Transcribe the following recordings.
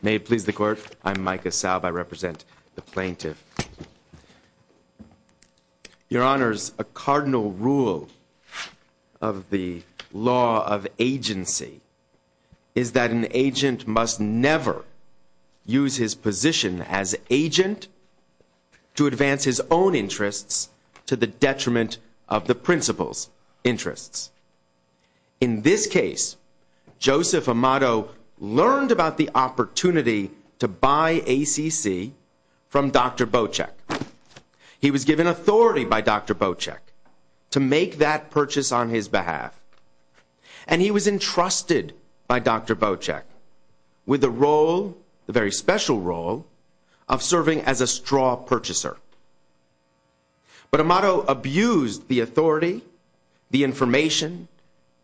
May it please the court, I'm Micah Saub, I represent the plaintiff. Your honors, a cardinal rule of the law of agency is that an agent must never use his position as agent to advance his own interests to the detriment of the principal's interests. In this case, Joseph Amato learned about the opportunity to buy ACC from Dr. Bocek. He was given authority by Dr. Bocek to make that purchase on his behalf. And he was entrusted by Dr. Bocek with the role, the very special role, of serving as a straw purchaser. But Amato abused the authority, the information,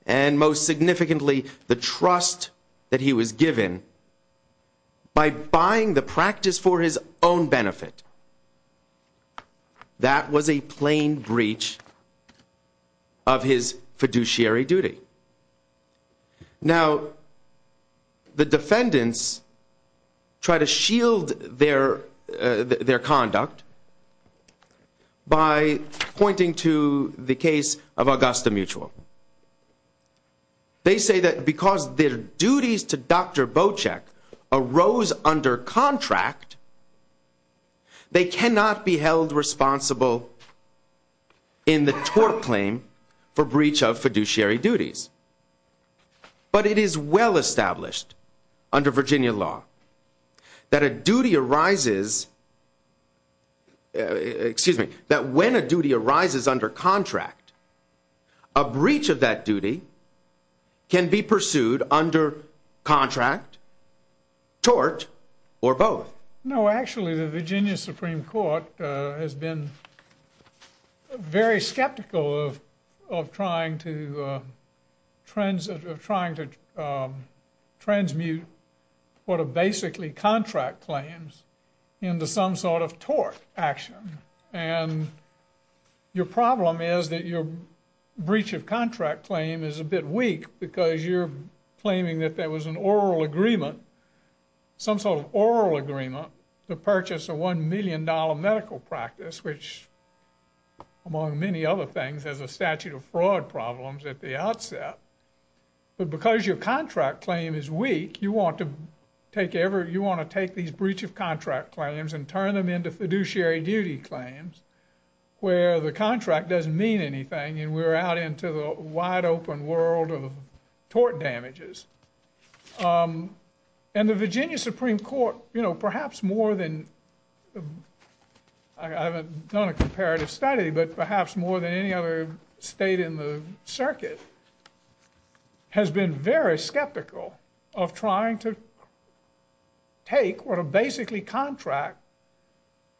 and most significantly the trust that he was given by buying the practice for his own benefit. That was a plain breach of his fiduciary duty. Now, the defendants try to shield their conduct by pointing to the case of Augusta Mutual. They say that because their duties to Dr. Bocek arose under contract, they cannot be held responsible in the tort claim for breach of fiduciary duties. But it is well established under Virginia law that a duty arises, excuse me, that when a duty arises under contract, a breach of that duty can be pursued under contract, tort, or both. No, actually, the Virginia Supreme Court has been very skeptical of trying to transmute what are basically contract claims into some sort of tort action. And your problem is that your breach of contract claim is a bit weak because you're claiming that there was an oral agreement, some sort of oral agreement, to purchase a $1 million medical practice, which, among many other things, has a statute of fraud problems at the outset. But because your contract claim is weak, you want to take these breach of contract claims and turn them into fiduciary duty claims, where the contract doesn't mean anything, and we're out into the wide open world of tort damages. And the Virginia Supreme Court, you know, perhaps more than, I haven't done a comparative study, but perhaps more than any other state in the circuit, has been very skeptical of trying to take what are basically contract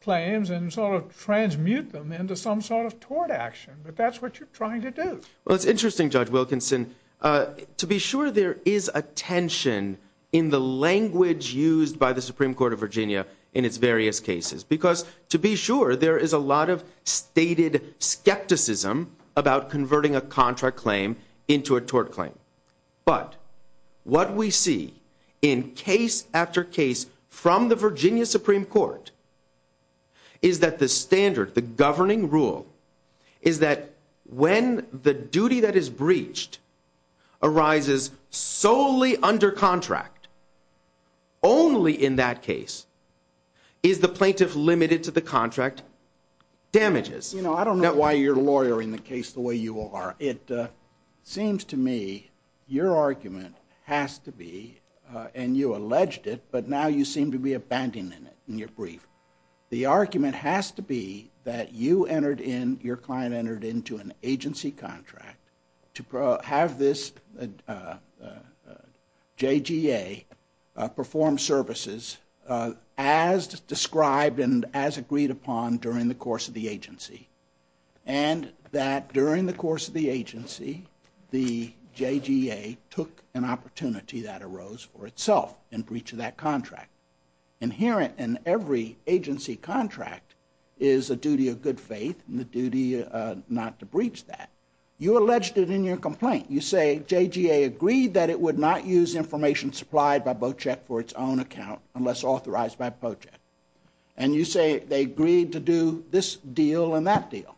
claims and sort of transmute them into some sort of tort action. But that's what you're trying to do. Well, it's interesting, Judge Wilkinson. To be sure, there is a tension in the language used by the Supreme Court of Virginia in its various cases. Because to be sure, there is a lot of stated skepticism about converting a contract claim into a tort claim. But what we see in case after case from the Virginia Supreme Court is that the standard, the governing rule, is that when the duty that is breached arises solely under contract, only in that case is the plaintiff limited to the contract damages. You know, I don't know why you're lawyering the case the way you are. It seems to me your argument has to be, and you alleged it, but now you seem to be abandoning it in your brief. The argument has to be that you entered in, your client entered into an agency contract to have this JGA perform services as described and as agreed upon during the course of the agency. And that during the course of the agency, the JGA took an opportunity that arose for itself in breach of that contract. Inherent in every agency contract is a duty of good faith and the duty not to breach that. You alleged it in your complaint. You say JGA agreed that it would not use information supplied by BOCEC for its own account unless authorized by BOCEC. And you say they agreed to do this deal and that deal.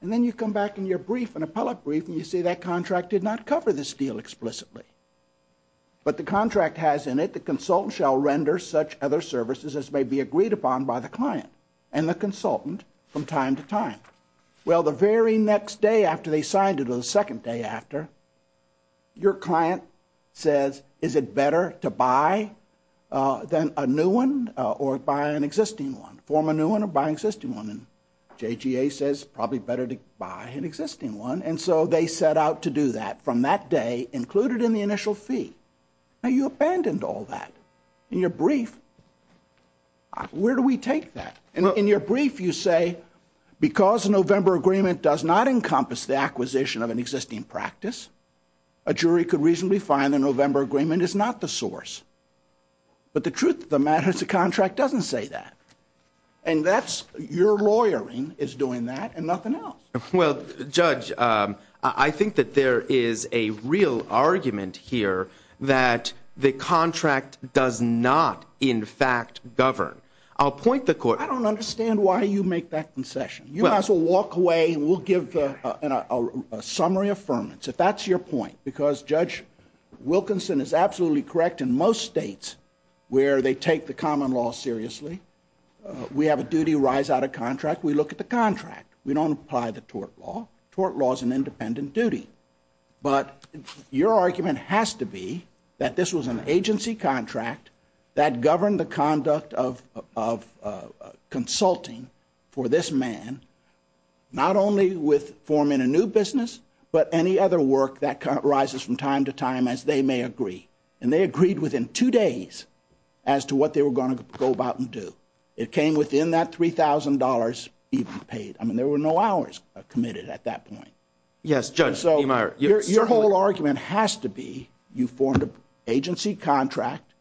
And then you come back in your brief, an appellate brief, and you say that contract did not cover this deal explicitly. But the contract has in it, the consultant shall render such other services as may be agreed upon by the client and the consultant from time to time. Well, the very next day after they signed it or the second day after, your client says, is it better to buy than a new one or buy an existing one? Form a new one or buy an existing one? And JGA says, probably better to buy an existing one. And so they set out to do that from that day, included in the initial fee. Now, you abandoned all that. In your brief, where do we take that? In your brief, you say because a November agreement does not encompass the acquisition of an existing practice, a jury could reasonably find the November agreement is not the source. But the truth of the matter is the contract doesn't say that. And that's your lawyering is doing that and nothing else. Well, Judge, I think that there is a real argument here that the contract does not, in fact, govern. I'll point the court. I don't understand why you make that concession. You might as well walk away and we'll give a summary affirmance, if that's your point. Because, Judge, Wilkinson is absolutely correct in most states where they take the common law seriously. We have a duty rise out of contract. We look at the contract. We don't apply the tort law. Tort law is an independent duty. But your argument has to be that this was an agency contract that governed the conduct of consulting for this man, not only with forming a new business, but any other work that arises from time to time as they may agree. And they agreed within two days as to what they were going to go about and do. It came within that $3,000 even paid. I mean, there were no hours committed at that point. Yes, Judge. Your whole argument has to be you formed an agency contract.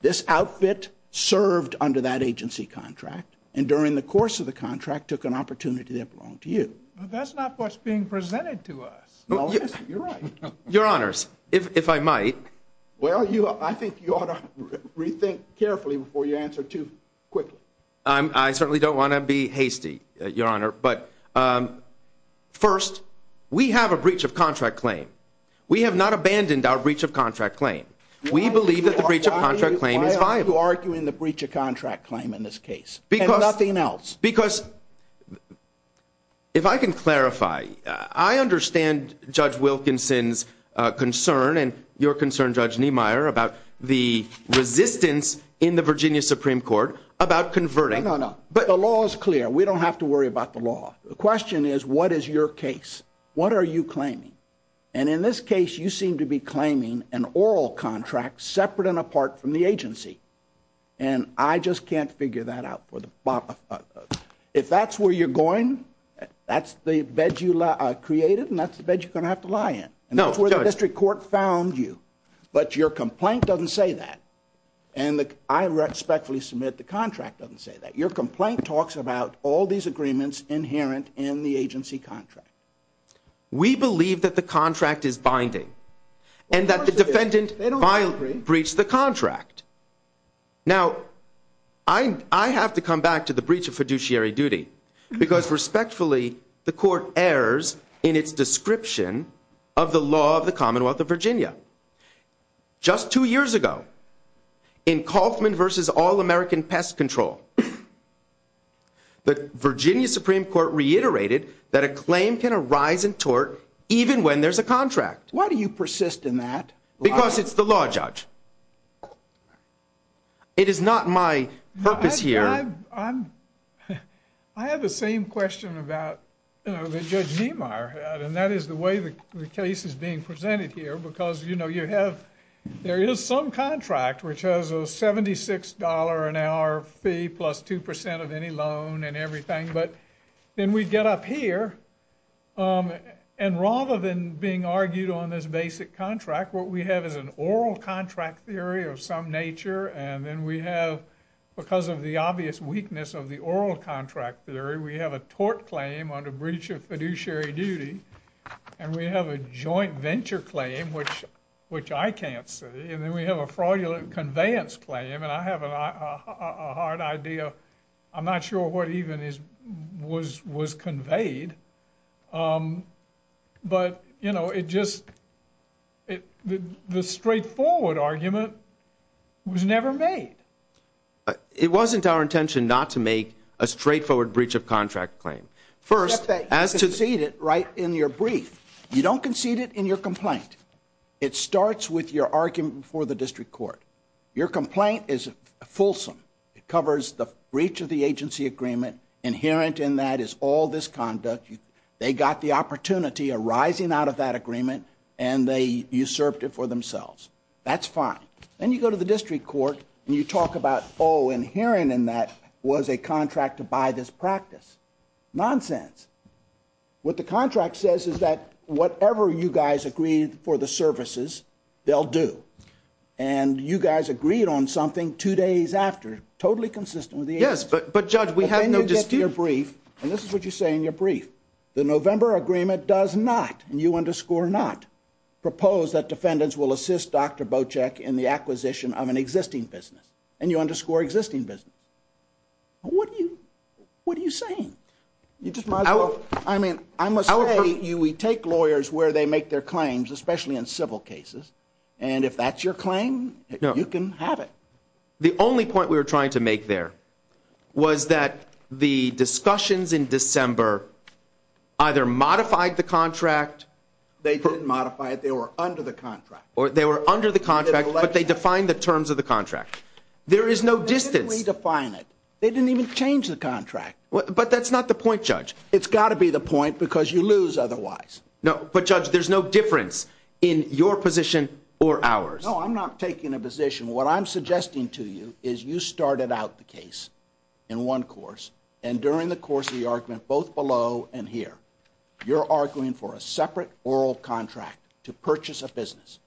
This outfit served under that agency contract and during the course of the contract took an opportunity that belonged to you. That's not what's being presented to us. You're right. Your Honors, if I might. Well, I think you ought to rethink carefully before you answer too quickly. I certainly don't want to be hasty, Your Honor. But first, we have a breach of contract claim. We have not abandoned our breach of contract claim. We believe that the breach of contract claim is viable. Why are you arguing the breach of contract claim in this case and nothing else? Because if I can clarify, I understand Judge Wilkinson's concern and your concern, Judge Niemeyer, about the resistance in the Virginia Supreme Court about converting. No, no, no. But the law is clear. We don't have to worry about the law. The question is, what is your case? What are you claiming? And in this case, you seem to be claiming an oral contract separate and apart from the agency. And I just can't figure that out. If that's where you're going, that's the bed you created and that's the bed you're going to have to lie in. And that's where the district court found you. But your complaint doesn't say that. And I respectfully submit the contract doesn't say that. Your complaint talks about all these agreements inherent in the agency contract. We believe that the contract is binding. And that the defendant breached the contract. Now, I have to come back to the breach of fiduciary duty because respectfully, the court errs in its description of the law of the Commonwealth of Virginia. Just two years ago, in Kauffman v. All-American Pest Control, the Virginia Supreme Court reiterated that a claim can arise in tort even when there's a contract. Why do you persist in that? Because it's the law, Judge. It is not my purpose here. I have the same question that Judge Niemeyer had. And that is the way the case is being presented here. Because, you know, there is some contract which has a $76 an hour fee plus 2% of any loan and everything. But then we get up here. And rather than being argued on this basic contract, what we have is an oral contract theory of some nature. And then we have, because of the obvious weakness of the oral contract theory, we have a tort claim under breach of fiduciary duty. And we have a joint venture claim, which I can't see. And then we have a fraudulent conveyance claim. And I have a hard idea. I'm not sure what even was conveyed. But, you know, it just, the straightforward argument was never made. It wasn't our intention not to make a straightforward breach of contract claim. First, as to the. You concede it right in your brief. You don't concede it in your complaint. It starts with your argument before the district court. Your complaint is fulsome. It covers the breach of the agency agreement. Inherent in that is all this conduct. They got the opportunity arising out of that agreement. And they usurped it for themselves. That's fine. Then you go to the district court and you talk about, oh, inherent in that was a contract to buy this practice. Nonsense. What the contract says is that whatever you guys agreed for the services, they'll do. And you guys agreed on something two days after, totally consistent with the agency. Yes, but, Judge, we had no dispute. And this is what you say in your brief. The November agreement does not, and you underscore not, propose that defendants will assist Dr. Bocek in the acquisition of an existing business. And you underscore existing business. What are you saying? You just might as well. I mean, I must say, we take lawyers where they make their claims, especially in civil cases. And if that's your claim, you can have it. The only point we were trying to make there was that the discussions in December either modified the contract. They didn't modify it. They were under the contract. Or they were under the contract, but they defined the terms of the contract. There is no distance. They didn't redefine it. They didn't even change the contract. But that's not the point, Judge. It's got to be the point because you lose otherwise. But, Judge, there's no difference in your position or ours. No, I'm not taking a position. What I'm suggesting to you is you started out the case in one course, and during the course of the argument, both below and here, you're arguing for a separate oral contract to purchase a business.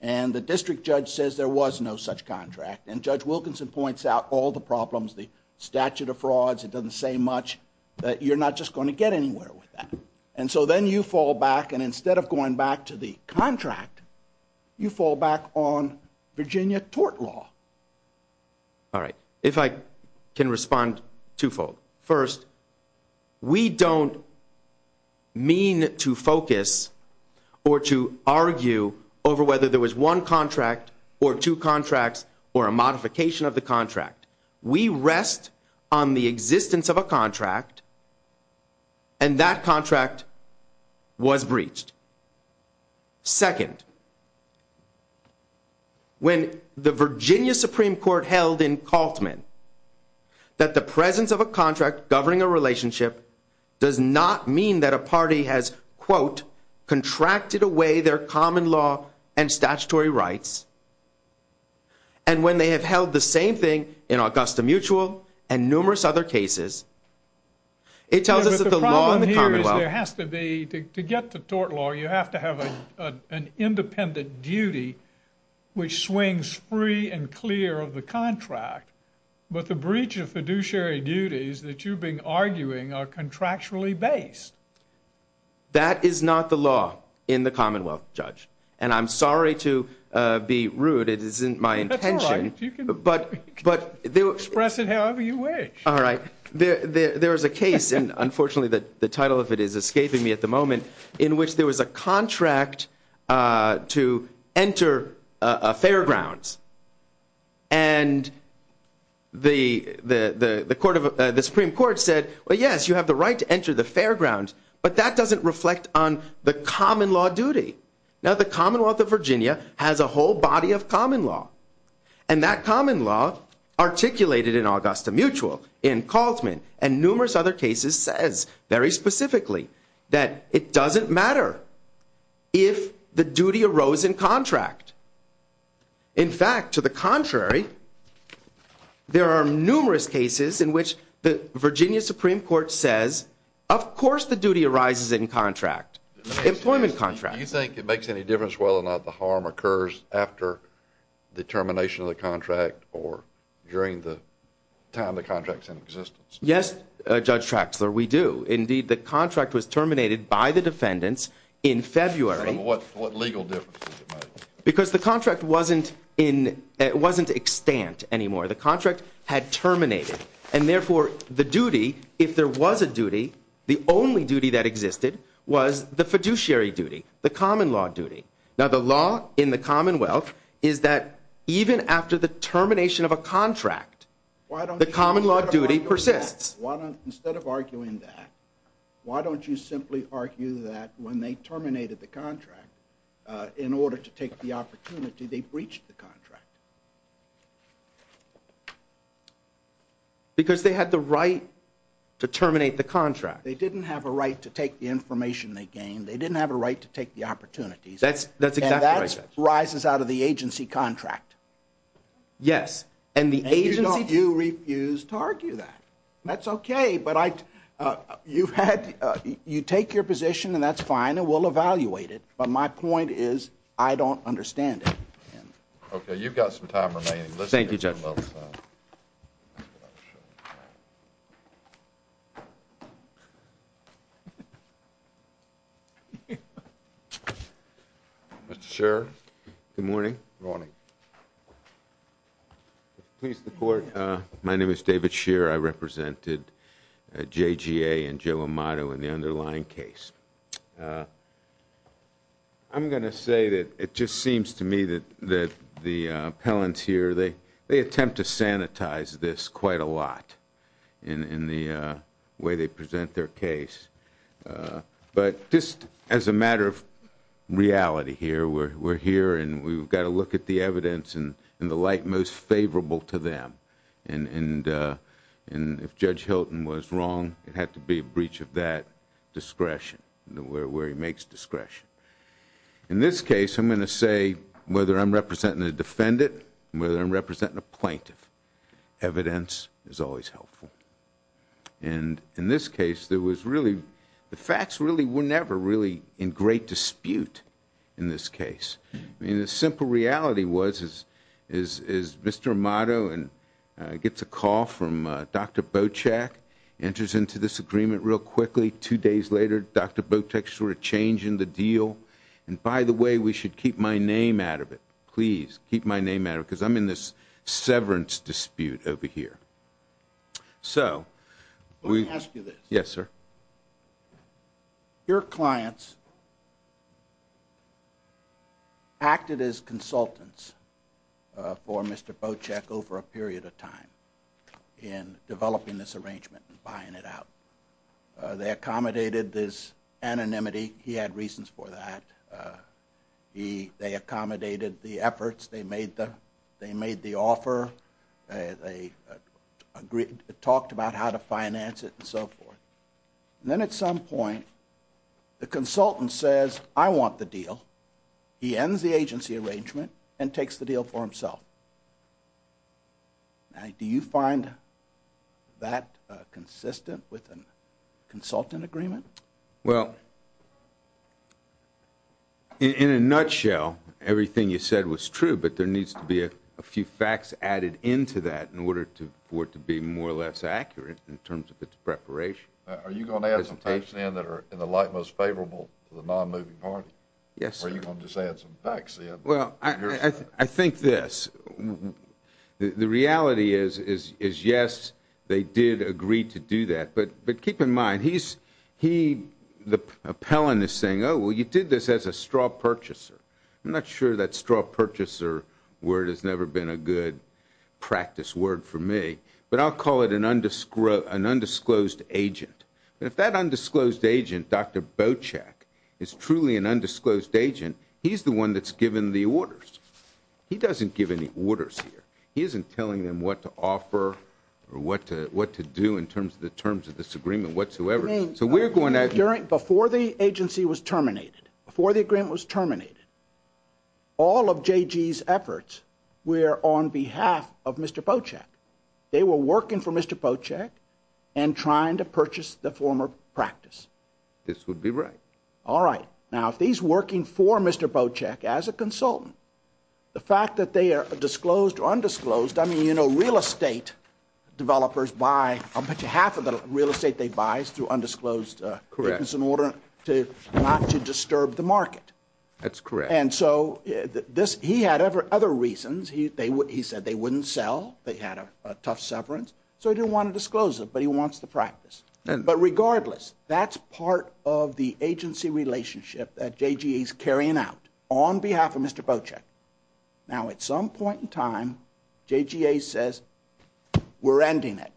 And the district judge says there was no such contract. And Judge Wilkinson points out all the problems, the statute of frauds. It doesn't say much. But you're not just going to get anywhere with that. And so then you fall back, and instead of going back to the contract, you fall back on Virginia tort law. All right. If I can respond twofold. First, we don't mean to focus or to argue over whether there was one contract or two contracts or a modification of the contract. We rest on the existence of a contract, and that contract was breached. Second, when the Virginia Supreme Court held in Kaltman that the presence of a contract governing a relationship does not mean that a party has, quote, And when they have held the same thing in Augusta Mutual and numerous other cases, it tells us that the law in the Commonwealth But the problem here is there has to be, to get to tort law, you have to have an independent duty which swings free and clear of the contract. But the breach of fiduciary duties that you've been arguing are contractually based. That is not the law in the Commonwealth, Judge. And I'm sorry to be rude. It isn't my intention. That's all right. You can express it however you wish. All right. There is a case, and unfortunately the title of it is escaping me at the moment, in which there was a contract to enter a fairgrounds. And the Supreme Court said, well, yes, you have the right to enter the fairgrounds, but that doesn't reflect on the common law duty. Now, the Commonwealth of Virginia has a whole body of common law. And that common law articulated in Augusta Mutual, in Kaltzman, and numerous other cases says very specifically that it doesn't matter if the duty arose in contract. In fact, to the contrary, there are numerous cases in which the Virginia Supreme Court says, of course, the duty arises in contract, employment contract. Do you think it makes any difference whether or not the harm occurs after the termination of the contract or during the time the contract is in existence? Yes, Judge Traxler, we do. Indeed, the contract was terminated by the defendants in February. What legal difference did it make? Because the contract wasn't extant anymore. The contract had terminated. And therefore, the duty, if there was a duty, the only duty that existed was the fiduciary duty, the common law duty. Now, the law in the Commonwealth is that even after the termination of a contract, the common law duty persists. Instead of arguing that, why don't you simply argue that when they terminated the contract, in order to take the opportunity, they breached the contract? Because they had the right to terminate the contract. They didn't have a right to take the information they gained. They didn't have a right to take the opportunities. That's exactly right, Judge. And that rises out of the agency contract. Yes. And you refuse to argue that. That's okay, but you take your position, and that's fine, and we'll evaluate it. But my point is, I don't understand it. Okay, you've got some time remaining. Thank you, Judge. Mr. Sherrod? Good morning. Good morning. Please support. My name is David Sherrod. I represented JGA and Joe Amato in the underlying case. I'm going to say that it just seems to me that the appellants here, they attempt to sanitize this quite a lot in the way they present their case. But just as a matter of reality here, we're here, and we've got to look at the evidence in the light most favorable to them. And if Judge Hilton was wrong, it had to be a breach of that discretion, where he makes discretion. In this case, I'm going to say, whether I'm representing a defendant, whether I'm representing a plaintiff, evidence is always helpful. And in this case, the facts were never really in great dispute in this case. I mean, the simple reality was, is Mr. Amato gets a call from Dr. Bochak, enters into this agreement real quickly. Two days later, Dr. Bochak's sort of changing the deal. And by the way, we should keep my name out of it. Please keep my name out of it, because I'm in this severance dispute over here. So... Let me ask you this. Yes, sir. Your clients acted as consultants for Mr. Bochak over a period of time in developing this arrangement and buying it out. They accommodated this anonymity. He had reasons for that. They accommodated the efforts. They made the offer. They talked about how to finance it and so forth. And then at some point, the consultant says, I want the deal. He ends the agency arrangement and takes the deal for himself. Do you find that consistent with a consultant agreement? Well, in a nutshell, everything you said was true. But there needs to be a few facts added into that in order for it to be more or less accurate in terms of its preparation. Are you going to add some facts in that are in the light most favorable to the non-moving party? Yes, sir. Or are you going to just add some facts in? Well, I think this. The reality is, yes, they did agree to do that. But keep in mind, the appellant is saying, oh, well, you did this as a straw purchaser. I'm not sure that straw purchaser word has never been a good practice word for me. But I'll call it an undisclosed agent. If that undisclosed agent, Dr. Bochak, is truly an undisclosed agent, he's the one that's given the orders. He doesn't give any orders here. He isn't telling them what to offer or what to do in terms of the terms of this agreement whatsoever. So we're going to have you. Before the agency was terminated, before the agreement was terminated, all of J.G.'s efforts were on behalf of Mr. Bochak. They were working for Mr. Bochak and trying to purchase the former practice. This would be right. All right. Now, if he's working for Mr. Bochak as a consultant, the fact that they are disclosed or undisclosed, I mean, you know, real estate developers buy, I'll bet you half of the real estate they buy is through undisclosed in order not to disturb the market. That's correct. And so he had other reasons. He said they wouldn't sell. They had a tough severance. So he didn't want to disclose it, but he wants the practice. But regardless, that's part of the agency relationship that J.G.'s carrying out on behalf of Mr. Bochak. Now, at some point in time, J.G.A. says we're ending it,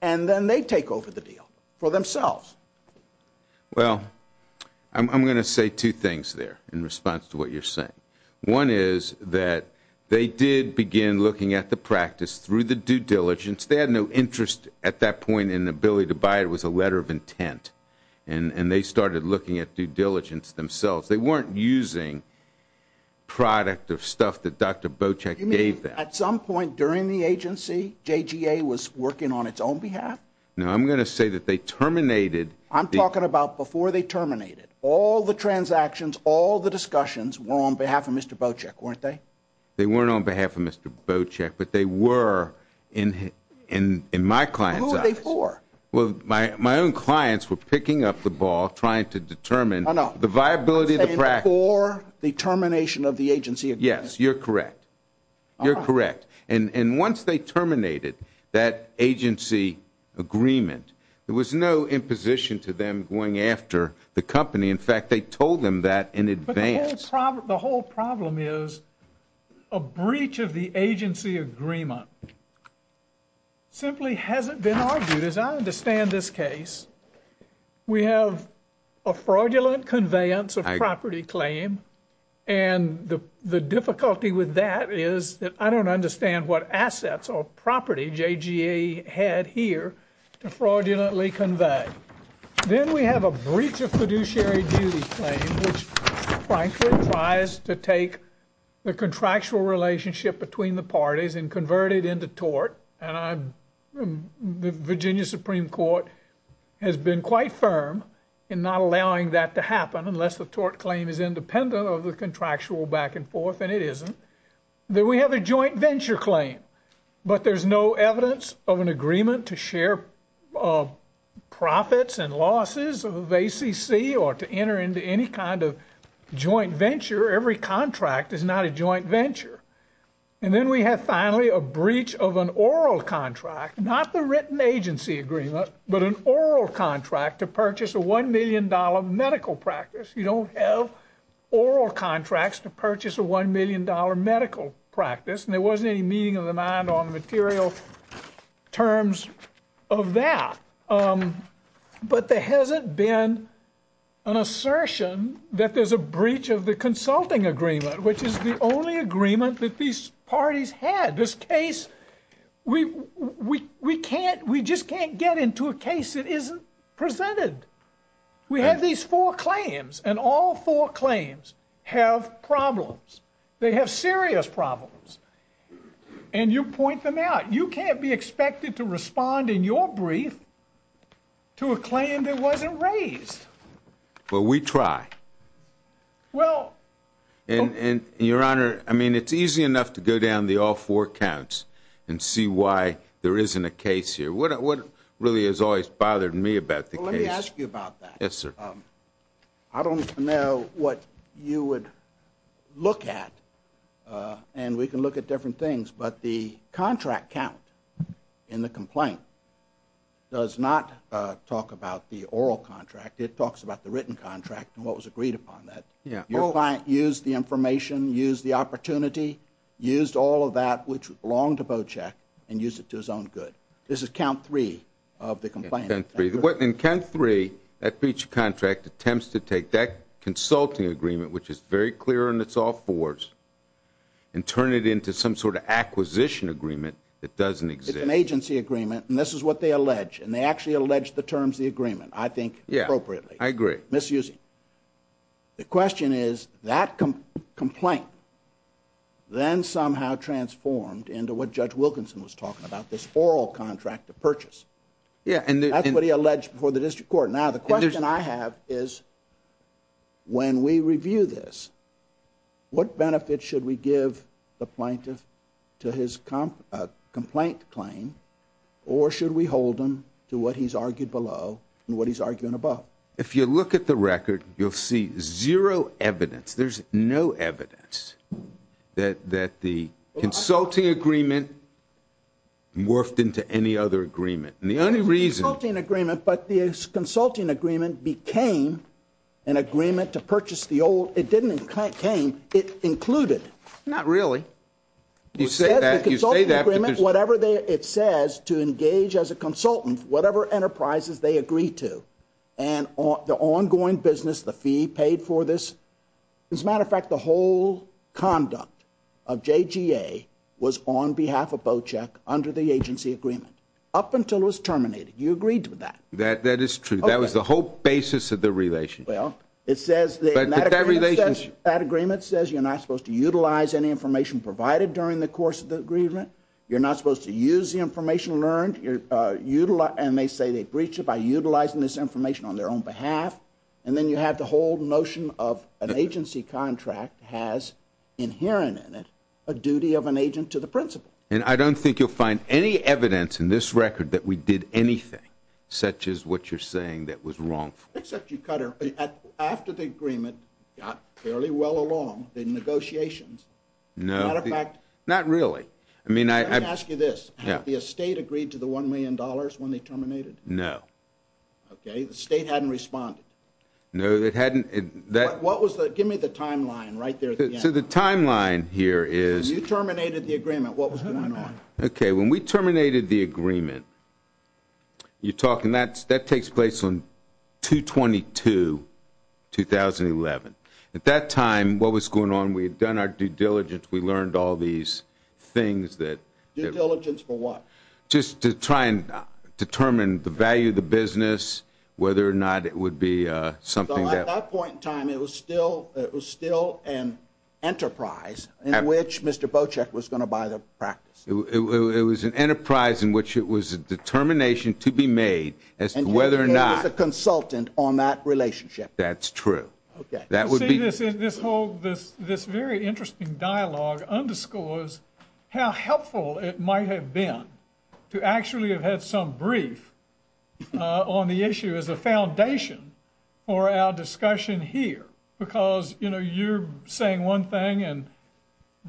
and then they take over the deal for themselves. Well, I'm going to say two things there in response to what you're saying. One is that they did begin looking at the practice through the due diligence. They had no interest at that point in the ability to buy it. It was a letter of intent, and they started looking at due diligence themselves. They weren't using product of stuff that Dr. Bochak gave them. You mean at some point during the agency, J.G.A. was working on its own behalf? No, I'm going to say that they terminated. I'm talking about before they terminated. All the transactions, all the discussions were on behalf of Mr. Bochak, weren't they? They weren't on behalf of Mr. Bochak, but they were in my client's eyes. Who were they for? Well, my own clients were picking up the ball, trying to determine the viability of the practice. You're saying before the termination of the agency agreement? Yes, you're correct. You're correct. And once they terminated that agency agreement, there was no imposition to them going after the company. In fact, they told them that in advance. The whole problem is a breach of the agency agreement simply hasn't been argued. As I understand this case, we have a fraudulent conveyance of property claim, and the difficulty with that is that I don't understand what assets or property J.G.A. had here to fraudulently convey. Then we have a breach of fiduciary duty claim, which frankly tries to take the contractual relationship between the parties and convert it into tort. And the Virginia Supreme Court has been quite firm in not allowing that to happen unless the tort claim is independent of the contractual back and forth, and it isn't. Then we have a joint venture claim, but there's no evidence of an agreement to share profits and losses of ACC or to enter into any kind of joint venture. Every contract is not a joint venture. And then we have finally a breach of an oral contract, not the written agency agreement, but an oral contract to purchase a $1 million medical practice. You don't have oral contracts to purchase a $1 million medical practice, and there wasn't any meeting of the mind on the material terms of that. But there hasn't been an assertion that there's a breach of the consulting agreement, which is the only agreement that these parties had. This case, we just can't get into a case that isn't presented. We have these four claims, and all four claims have problems. They have serious problems, and you point them out. You can't be expected to respond in your brief to a claim that wasn't raised. Well, we try. And, Your Honor, I mean it's easy enough to go down the all four counts and see why there isn't a case here. What really has always bothered me about the case? Well, let me ask you about that. Yes, sir. I don't know what you would look at, and we can look at different things, but the contract count in the complaint does not talk about the oral contract. It talks about the written contract and what was agreed upon. Your client used the information, used the opportunity, used all of that which belonged to Bochek and used it to his own good. This is count three of the complaint. Count three. In count three, that breach of contract attempts to take that consulting agreement, which is very clear and it's all fours, and turn it into some sort of acquisition agreement that doesn't exist. It's an agency agreement, and this is what they allege, and they actually allege the terms of the agreement, I think, appropriately. I agree. Misusing. The question is, that complaint then somehow transformed into what Judge Wilkinson was talking about, this oral contract of purchase. That's what he alleged before the district court. Now, the question I have is, when we review this, what benefits should we give the plaintiff to his complaint claim, or should we hold him to what he's argued below and what he's arguing above? If you look at the record, you'll see zero evidence. There's no evidence that the consulting agreement morphed into any other agreement. The only reason. The consulting agreement, but the consulting agreement became an agreement to purchase the old. It didn't claim. It included. Not really. You say that. You say that. Whatever it says to engage as a consultant, whatever enterprises they agree to, and the ongoing business, the fee paid for this. As a matter of fact, the whole conduct of JGA was on behalf of Bochek under the agency agreement, up until it was terminated. You agreed to that. That is true. That was the whole basis of the relationship. Well, it says. But that relationship. That agreement says you're not supposed to utilize any information provided during the course of the agreement. You're not supposed to use the information learned. And they say they breached it by utilizing this information on their own behalf. And then you have the whole notion of an agency contract has inherent in it a duty of an agent to the principal. And I don't think you'll find any evidence in this record that we did anything such as what you're saying that was wrong. Except you cut her. After the agreement got fairly well along, the negotiations. As a matter of fact. Not really. Let me ask you this. Had the estate agreed to the $1 million when they terminated? No. Okay. The state hadn't responded. No, it hadn't. Give me the timeline right there at the end. So the timeline here is. You terminated the agreement. What was going on? Okay. When we terminated the agreement, you're talking that takes place on 2-22-2011. At that time, what was going on? We had done our due diligence. We learned all these things that. Due diligence for what? Just to try and determine the value of the business, whether or not it would be something that. So at that point in time, it was still an enterprise in which Mr. Bocek was going to buy the practice. It was an enterprise in which it was a determination to be made as to whether or not. And he was a consultant on that relationship. That's true. Okay. This very interesting dialogue underscores how helpful it might have been to actually have had some brief on the issue as a foundation for our discussion here. Because you're saying one thing and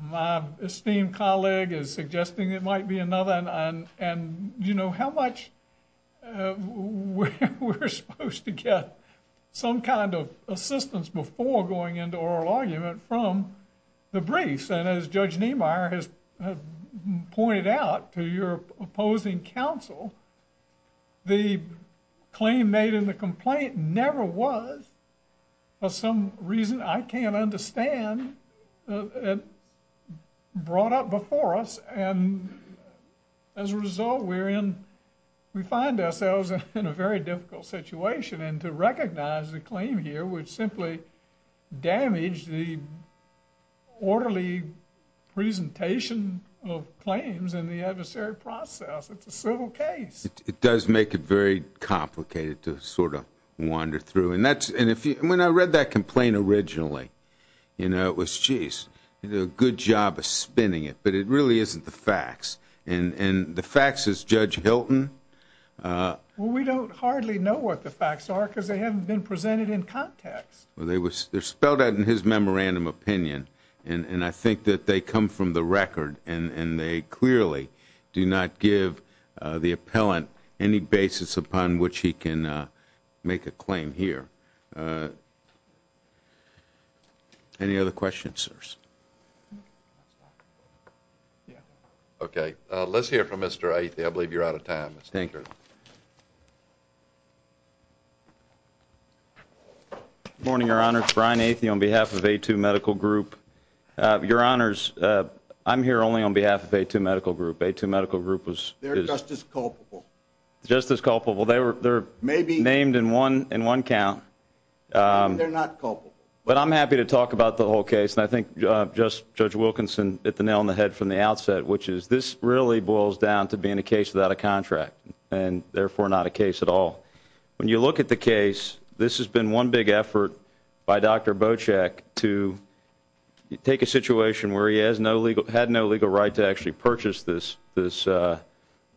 my esteemed colleague is suggesting it might be another. And, you know, how much we're supposed to get some kind of assistance before going into oral argument from the briefs. And as Judge Niemeyer has pointed out to your opposing counsel, the claim made in the complaint never was for some reason. I can't understand it brought up before us. And as a result, we find ourselves in a very difficult situation. And to recognize the claim here would simply damage the orderly presentation of claims in the adversary process. It's a civil case. It does make it very complicated to sort of wander through. And when I read that complaint originally, you know, it was, geez, you did a good job of spinning it. But it really isn't the facts. And the facts is Judge Hilton. Well, we don't hardly know what the facts are because they haven't been presented in context. Well, they're spelled out in his memorandum opinion. And I think that they come from the record. And they clearly do not give the appellant any basis upon which he can make a claim here. Any other questions, sirs? Okay. Let's hear from Mr. Athey. I believe you're out of time. Thank you. Good morning, Your Honor. It's Brian Athey on behalf of A2 Medical Group. Your Honors, I'm here only on behalf of A2 Medical Group. A2 Medical Group was... They're just as culpable. Just as culpable. They're named in one count. They're not culpable. But I'm happy to talk about the whole case. And I think Judge Wilkinson hit the nail on the head from the outset, which is this really boils down to being a case without a contract and therefore not a case at all. When you look at the case, this has been one big effort by Dr. Bochek to take a situation where he had no legal right to actually purchase this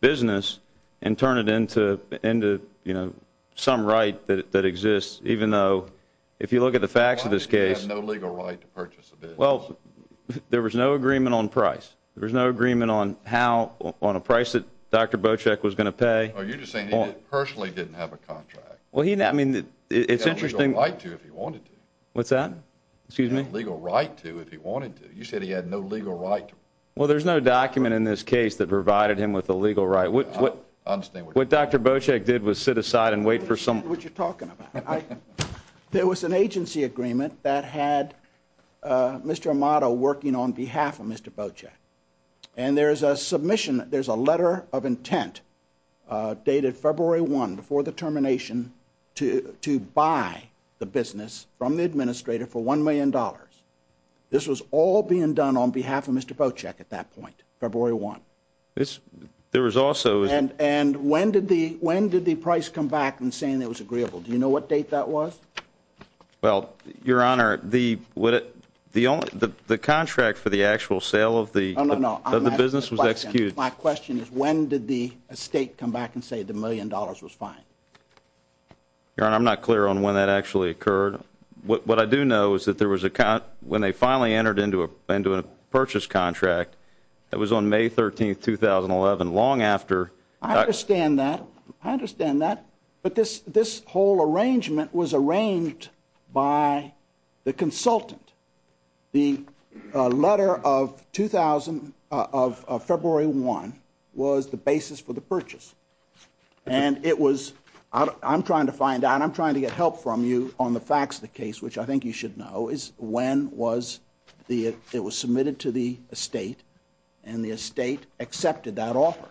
business and turn it into some right that exists, even though if you look at the facts of this case... Well, there was no agreement on price. There was no agreement on how, on a price that Dr. Bochek was going to pay. Oh, you're just saying he personally didn't have a contract. Well, I mean, it's interesting... He had a legal right to if he wanted to. What's that? Excuse me? He had a legal right to if he wanted to. You said he had no legal right. Well, there's no document in this case that provided him with a legal right. What Dr. Bochek did was sit aside and wait for some... That's not what you're talking about. There was an agency agreement that had Mr. Amato working on behalf of Mr. Bochek, and there's a letter of intent dated February 1, before the termination, to buy the business from the administrator for $1 million. This was all being done on behalf of Mr. Bochek at that point, February 1. There was also... And when did the price come back in saying it was agreeable? Do you know what date that was? Well, Your Honor, the contract for the actual sale of the business was executed. My question is when did the estate come back and say the $1 million was fine? Your Honor, I'm not clear on when that actually occurred. What I do know is that when they finally entered into a purchase contract, it was on May 13, 2011, long after... I understand that. I understand that. But this whole arrangement was arranged by the consultant. The letter of February 1 was the basis for the purchase. And it was... I'm trying to find out. I'm trying to get help from you on the facts of the case, which I think you should know, is when it was submitted to the estate, and the estate accepted that offer.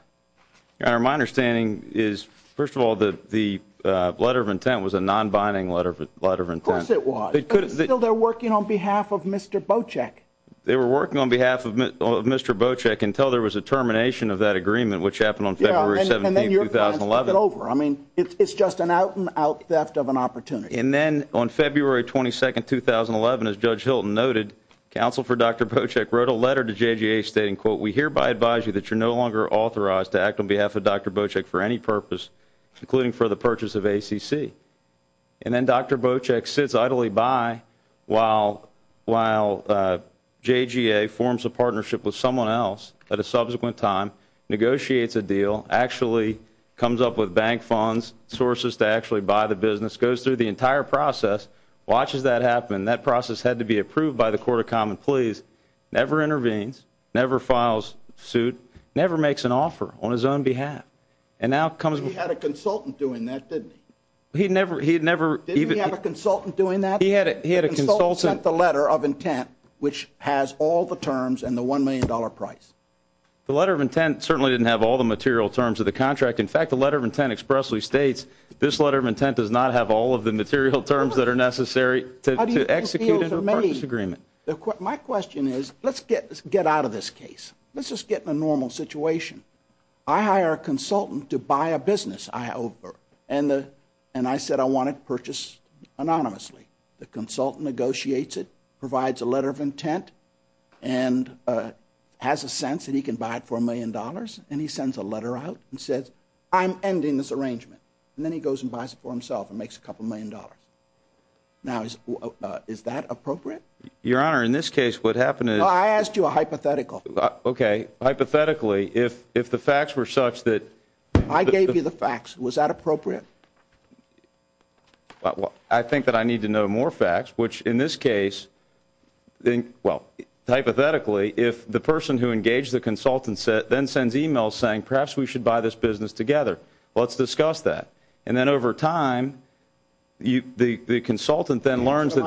Your Honor, my understanding is, first of all, that the letter of intent was a non-binding letter of intent. Of course it was. But still they're working on behalf of Mr. Bocek. They were working on behalf of Mr. Bocek until there was a termination of that agreement, which happened on February 17, 2011. And then your client took it over. I mean, it's just an out-and-out theft of an opportunity. And then on February 22, 2011, as Judge Hilton noted, counsel for Dr. Bocek wrote a letter to JGA stating, quote, We hereby advise you that you're no longer authorized to act on behalf of Dr. Bocek for any purpose, including for the purchase of ACC. And then Dr. Bocek sits idly by while JGA forms a partnership with someone else at a subsequent time, negotiates a deal, actually comes up with bank funds, sources to actually buy the business, goes through the entire process, watches that happen. That process had to be approved by the Court of Common Pleas, never intervenes, never files suit, never makes an offer on his own behalf. And now comes... He had a consultant doing that, didn't he? He never... Didn't he have a consultant doing that? He had a consultant... The consultant sent the letter of intent, which has all the terms and the $1 million price. The letter of intent certainly didn't have all the material terms of the contract. In fact, the letter of intent expressly states this letter of intent does not have all of the material terms that are necessary to execute into a purchase agreement. My question is, let's get out of this case. Let's just get in a normal situation. I hire a consultant to buy a business. And I said I want it purchased anonymously. The consultant negotiates it, provides a letter of intent, and has a sense that he can buy it for $1 million, and he sends a letter out and says, I'm ending this arrangement. And then he goes and buys it for himself and makes a couple million dollars. Now, is that appropriate? Your Honor, in this case, what happened is... Well, I asked you a hypothetical. Okay. Hypothetically, if the facts were such that... I gave you the facts. Was that appropriate? I think that I need to know more facts, which in this case, well, hypothetically, if the person who engaged the consultant then sends e-mails saying, perhaps we should buy this business together, let's discuss that. And then over time, the consultant then learns that...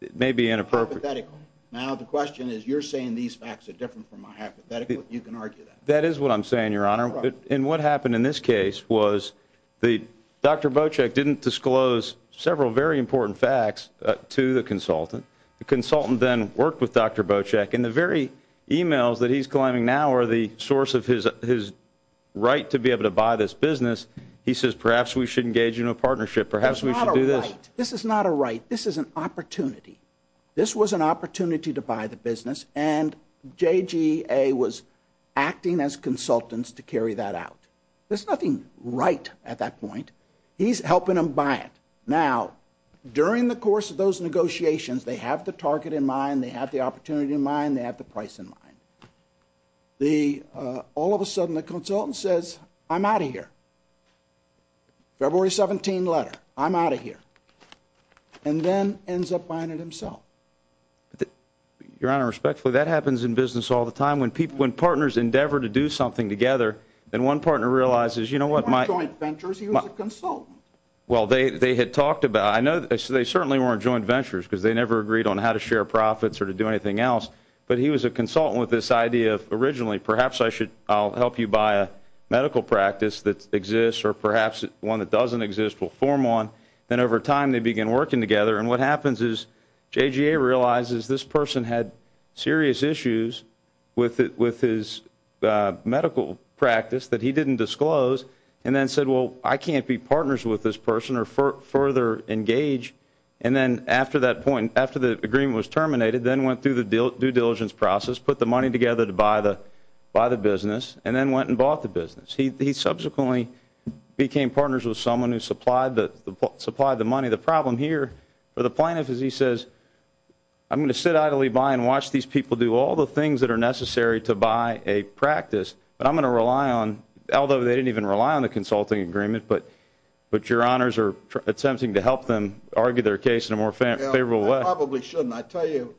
It may be inappropriate. Now, the question is, you're saying these facts are different from my hypothetical. You can argue that. That is what I'm saying, Your Honor. And what happened in this case was Dr. Bocek didn't disclose several very important facts to the consultant. The consultant then worked with Dr. Bocek, and the very e-mails that he's claiming now are the source of his right to be able to buy this business. He says, perhaps we should engage in a partnership, perhaps we should do this. This is not a right. This is an opportunity. This was an opportunity to buy the business, and JGA was acting as consultants to carry that out. There's nothing right at that point. He's helping them buy it. Now, during the course of those negotiations, they have the target in mind, they have the opportunity in mind, they have the price in mind. All of a sudden, the consultant says, I'm out of here. February 17 letter, I'm out of here. And then ends up buying it himself. Your Honor, respectfully, that happens in business all the time. When partners endeavor to do something together, then one partner realizes, you know what? They weren't joint ventures, he was a consultant. Well, they had talked about it. They certainly weren't joint ventures because they never agreed on how to share profits or to do anything else, but he was a consultant with this idea of, originally, perhaps I'll help you buy a medical practice that exists or perhaps one that doesn't exist will form one. Then over time, they begin working together, and what happens is JGA realizes this person had serious issues with his medical practice that he didn't disclose and then said, well, I can't be partners with this person or further engage. And then after that point, after the agreement was terminated, then went through the due diligence process, put the money together to buy the business, and then went and bought the business. He subsequently became partners with someone who supplied the money. The problem here for the plaintiff is he says, I'm going to sit idly by and watch these people do all the things that are necessary to buy a practice, but I'm going to rely on, although they didn't even rely on the consulting agreement, but Your Honors are attempting to help them argue their case in a more favorable way. I probably shouldn't. I tell you,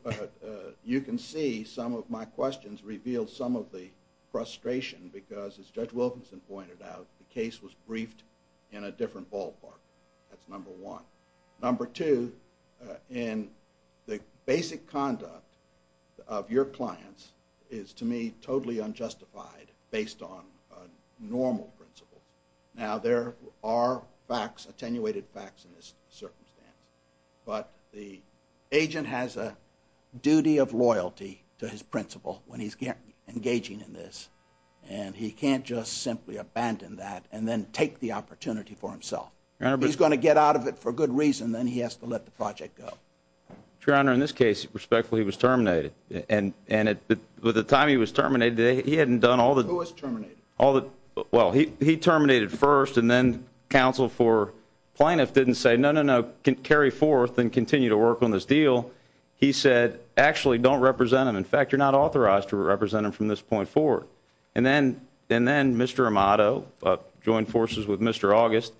you can see some of my questions reveal some of the frustration because as Judge Wilkinson pointed out, the case was briefed in a different ballpark. That's number one. Number two, in the basic conduct of your clients is, to me, totally unjustified based on normal principles. Now, there are facts, attenuated facts in this circumstance, but the agent has a duty of loyalty to his principle when he's engaging in this, and he can't just simply abandon that and then take the opportunity for himself. If he's going to get out of it for good reason, then he has to let the project go. Your Honor, in this case, respectfully, he was terminated, and at the time he was terminated, he hadn't done all the- Who was terminated? Well, he terminated first, and then counsel for plaintiff didn't say, no, no, no, carry forth and continue to work on this deal. He said, actually, don't represent him. In fact, you're not authorized to represent him from this point forward. And then Mr. Amato joined forces with Mr. August,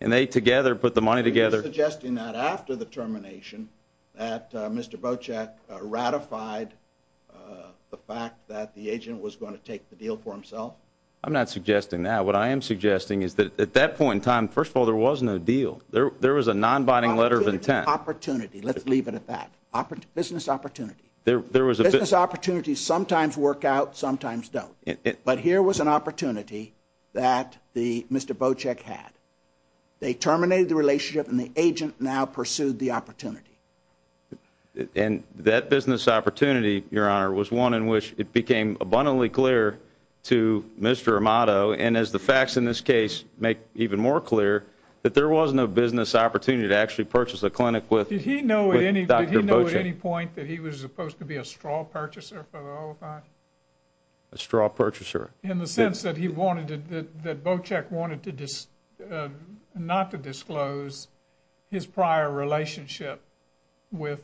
and they together put the money together. Are you suggesting that after the termination that Mr. Bocek ratified the fact that the agent was going to take the deal for himself? I'm not suggesting that. What I am suggesting is that at that point in time, first of all, there was no deal. There was a non-binding letter of intent. Opportunity. Let's leave it at that. Business opportunity. There was a- Business opportunities sometimes work out, sometimes don't. But here was an opportunity that Mr. Bocek had. They terminated the relationship, and the agent now pursued the opportunity. And that business opportunity, Your Honor, was one in which it became abundantly clear to Mr. Amato, and as the facts in this case make even more clear, that there was no business opportunity to actually purchase a clinic with Dr. Bocek. Did he know at any point that he was supposed to be a straw purchaser for the OFI? A straw purchaser. In the sense that Bocek wanted not to disclose his prior relationship with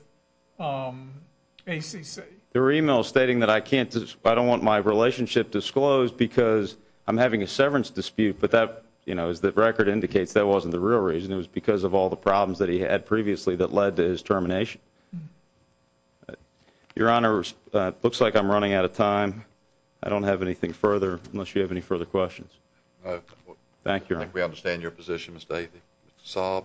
ACC. There were e-mails stating that I don't want my relationship disclosed because I'm having a severance dispute, but as the record indicates, that wasn't the real reason. It was because of all the problems that he had previously that led to his termination. Your Honor, it looks like I'm running out of time. I don't have anything further, unless you have any further questions. Thank you, Your Honor. I think we understand your position, Mr. Athey. Mr. Saab.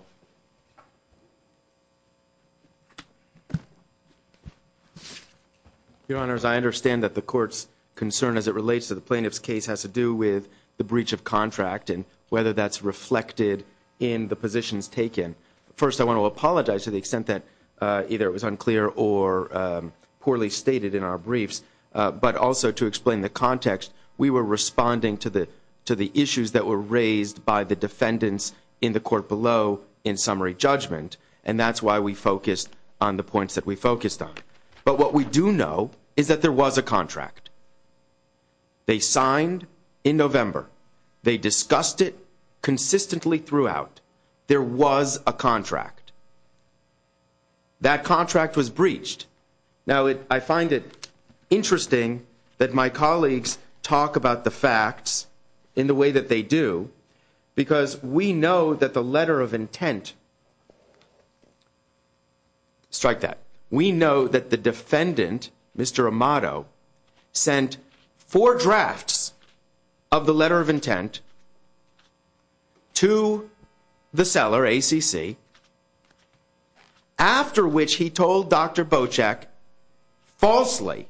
Your Honors, I understand that the Court's concern as it relates to the plaintiff's case has to do with the breach of contract and whether that's reflected in the positions taken. First, I want to apologize to the extent that either it was unclear or poorly stated in our briefs, but also to explain the context, we were responding to the issues that were raised by the defendants in the Court below in summary judgment, and that's why we focused on the points that we focused on. But what we do know is that there was a contract. They signed in November. They discussed it consistently throughout. There was a contract. That contract was breached. Now, I find it interesting that my colleagues talk about the facts in the way that they do, because we know that the letter of intent, strike that. We know that the defendant, Mr. Amato, sent four drafts of the letter of intent to the seller, ACC, after which he told Dr. Bocek falsely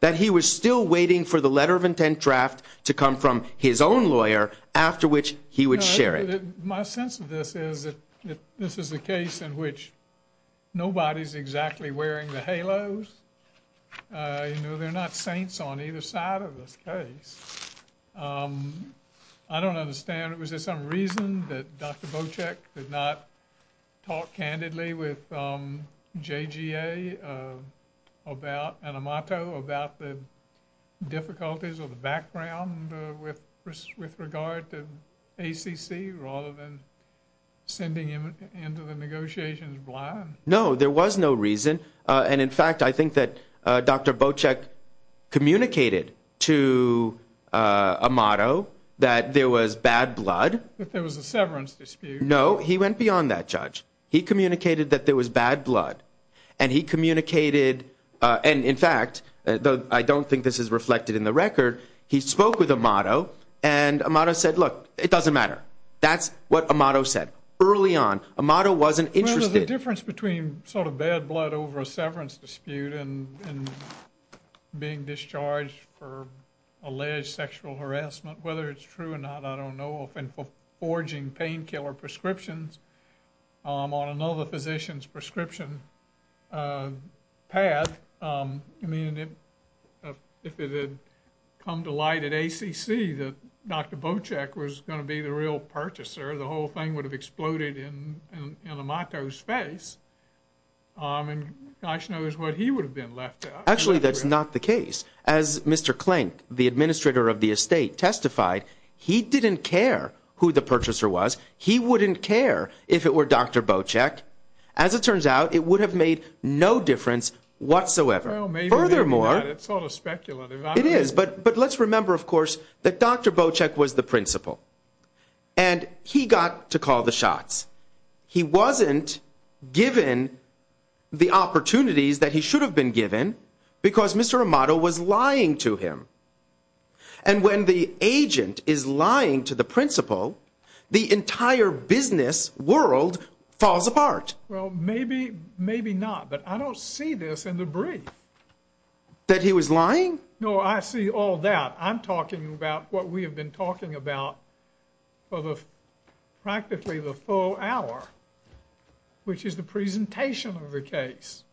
that he was still waiting for the letter of intent draft to come from his own lawyer, after which he would share it. My sense of this is that this is a case in which nobody's exactly wearing the halos. You know, they're not saints on either side of this case. I don't understand. Was there some reason that Dr. Bocek did not talk candidly with JGA about Amato, about the difficulties of the background with regard to ACC, rather than sending him into the negotiations blind? No, there was no reason. And, in fact, I think that Dr. Bocek communicated to Amato that there was bad blood. That there was a severance dispute. No, he went beyond that, Judge. He communicated that there was bad blood. And he communicated, and in fact, though I don't think this is reflected in the record, he spoke with Amato, and Amato said, look, it doesn't matter. That's what Amato said early on. Amato wasn't interested. Well, the difference between sort of bad blood over a severance dispute and being discharged for alleged sexual harassment, whether it's true or not, I don't know, and forging painkiller prescriptions on another physician's prescription path, I mean, if it had come to light at ACC that Dr. Bocek was going to be the real purchaser, the whole thing would have exploded in Amato's face, and gosh knows what he would have been left out. Actually, that's not the case. As Mr. Klink, the administrator of the estate, testified, he didn't care who the purchaser was. He wouldn't care if it were Dr. Bocek. As it turns out, it would have made no difference whatsoever. Well, maybe not. It's sort of speculative. It is, but let's remember, of course, that Dr. Bocek was the principal, and he got to call the shots. He wasn't given the opportunities that he should have been given because Mr. Amato was lying to him, and when the agent is lying to the principal, the entire business world falls apart. Well, maybe not, but I don't see this in the brief. That he was lying? No, I see all that. I'm talking about what we have been talking about for practically the full hour, which is the presentation of the case.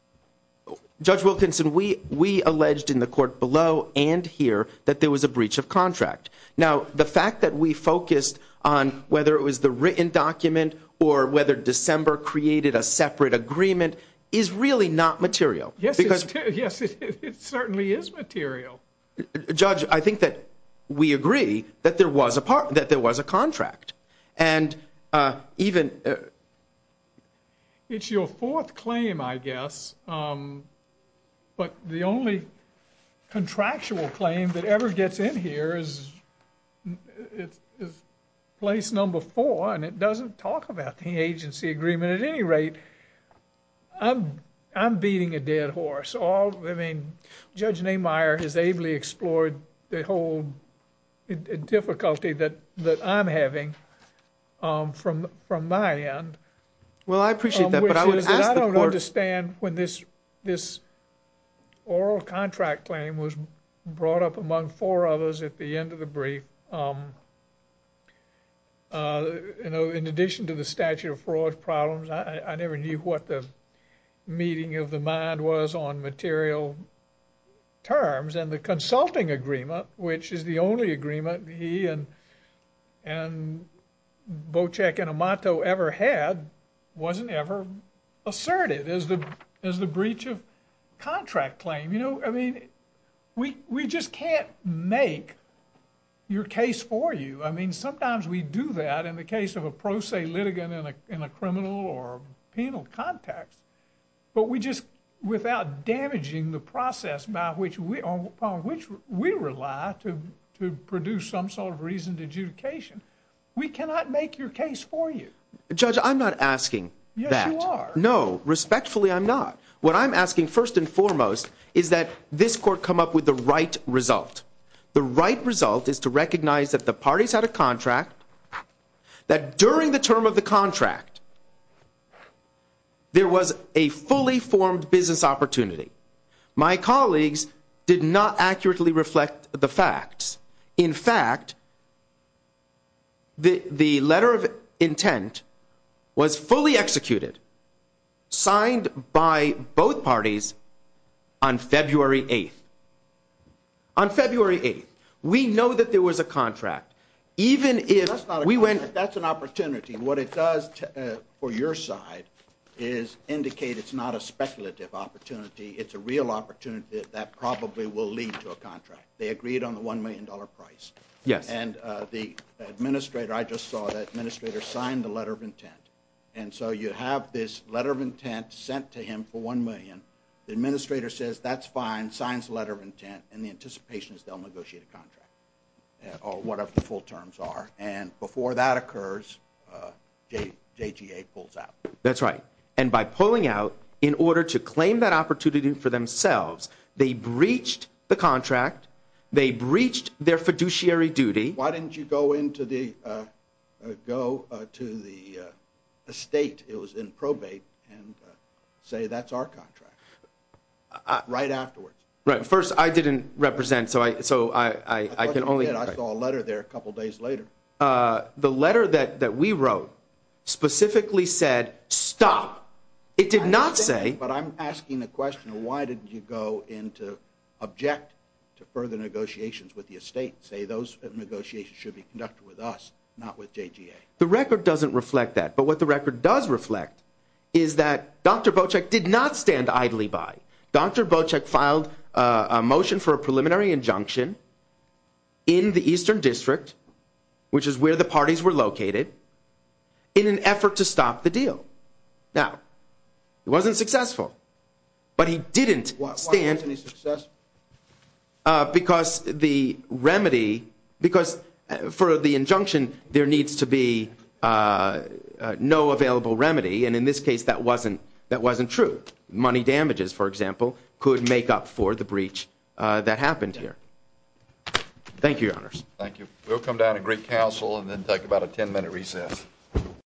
Judge Wilkinson, we alleged in the court below and here that there was a breach of contract. Now, the fact that we focused on whether it was the written document or whether December created a separate agreement is really not material. Yes, it certainly is material. Judge, I think that we agree that there was a contract, and even... It's your fourth claim, I guess, but the only contractual claim that ever gets in here is place number four, and it doesn't talk about the agency agreement at any rate. I'm beating a dead horse. Judge Nehmeyer has ably explored the whole difficulty that I'm having from my end. Well, I appreciate that, but I would ask the court... I don't understand when this oral contract claim was brought up among four others at the end of the brief. In addition to the statute of fraud problems, I never knew what the meeting of the mind was on material terms, and the consulting agreement, which is the only agreement he and Bocek and Amato ever had, wasn't ever asserted as the breach of contract claim. You know, I mean, we just can't make your case for you. I mean, sometimes we do that in the case of a pro se litigant in a criminal or penal context, but without damaging the process upon which we rely to produce some sort of reasoned adjudication, we cannot make your case for you. Judge, I'm not asking that. Yes, you are. No, respectfully, I'm not. What I'm asking, first and foremost, is that this court come up with the right result. The right result is to recognize that the parties had a contract, that during the term of the contract, there was a fully formed business opportunity. My colleagues did not accurately reflect the facts. In fact, the letter of intent was fully executed, signed by both parties on February 8th. On February 8th, we know that there was a contract. That's not a contract. That's an opportunity. What it does for your side is indicate it's not a speculative opportunity. It's a real opportunity that probably will lead to a contract. They agreed on the $1 million price. Yes. And the administrator, I just saw the administrator sign the letter of intent. And so you have this letter of intent sent to him for $1 million. The administrator says, that's fine, signs the letter of intent, and the anticipation is they'll negotiate a contract, or whatever the full terms are. And before that occurs, JGA pulls out. That's right. And by pulling out, in order to claim that opportunity for themselves, they breached the contract, they breached their fiduciary duty. Why didn't you go into the estate, it was in probate, and say that's our contract, right afterwards? First, I didn't represent, so I can only. I saw a letter there a couple days later. The letter that we wrote specifically said, stop. It did not say. But I'm asking the question, why did you go in to object to further negotiations with the estate, say those negotiations should be conducted with us, not with JGA? The record doesn't reflect that. But what the record does reflect is that Dr. Bocek did not stand idly by. Dr. Bocek filed a motion for a preliminary injunction in the Eastern District, which is where the parties were located, in an effort to stop the deal. Now, it wasn't successful, but he didn't stand. Why wasn't he successful? Because the remedy, because for the injunction, there needs to be no available remedy, and in this case, that wasn't true. Money damages, for example, could make up for the breach that happened here. Thank you, Your Honors. Thank you. We'll come down to Greek Council and then take about a 10-minute recess.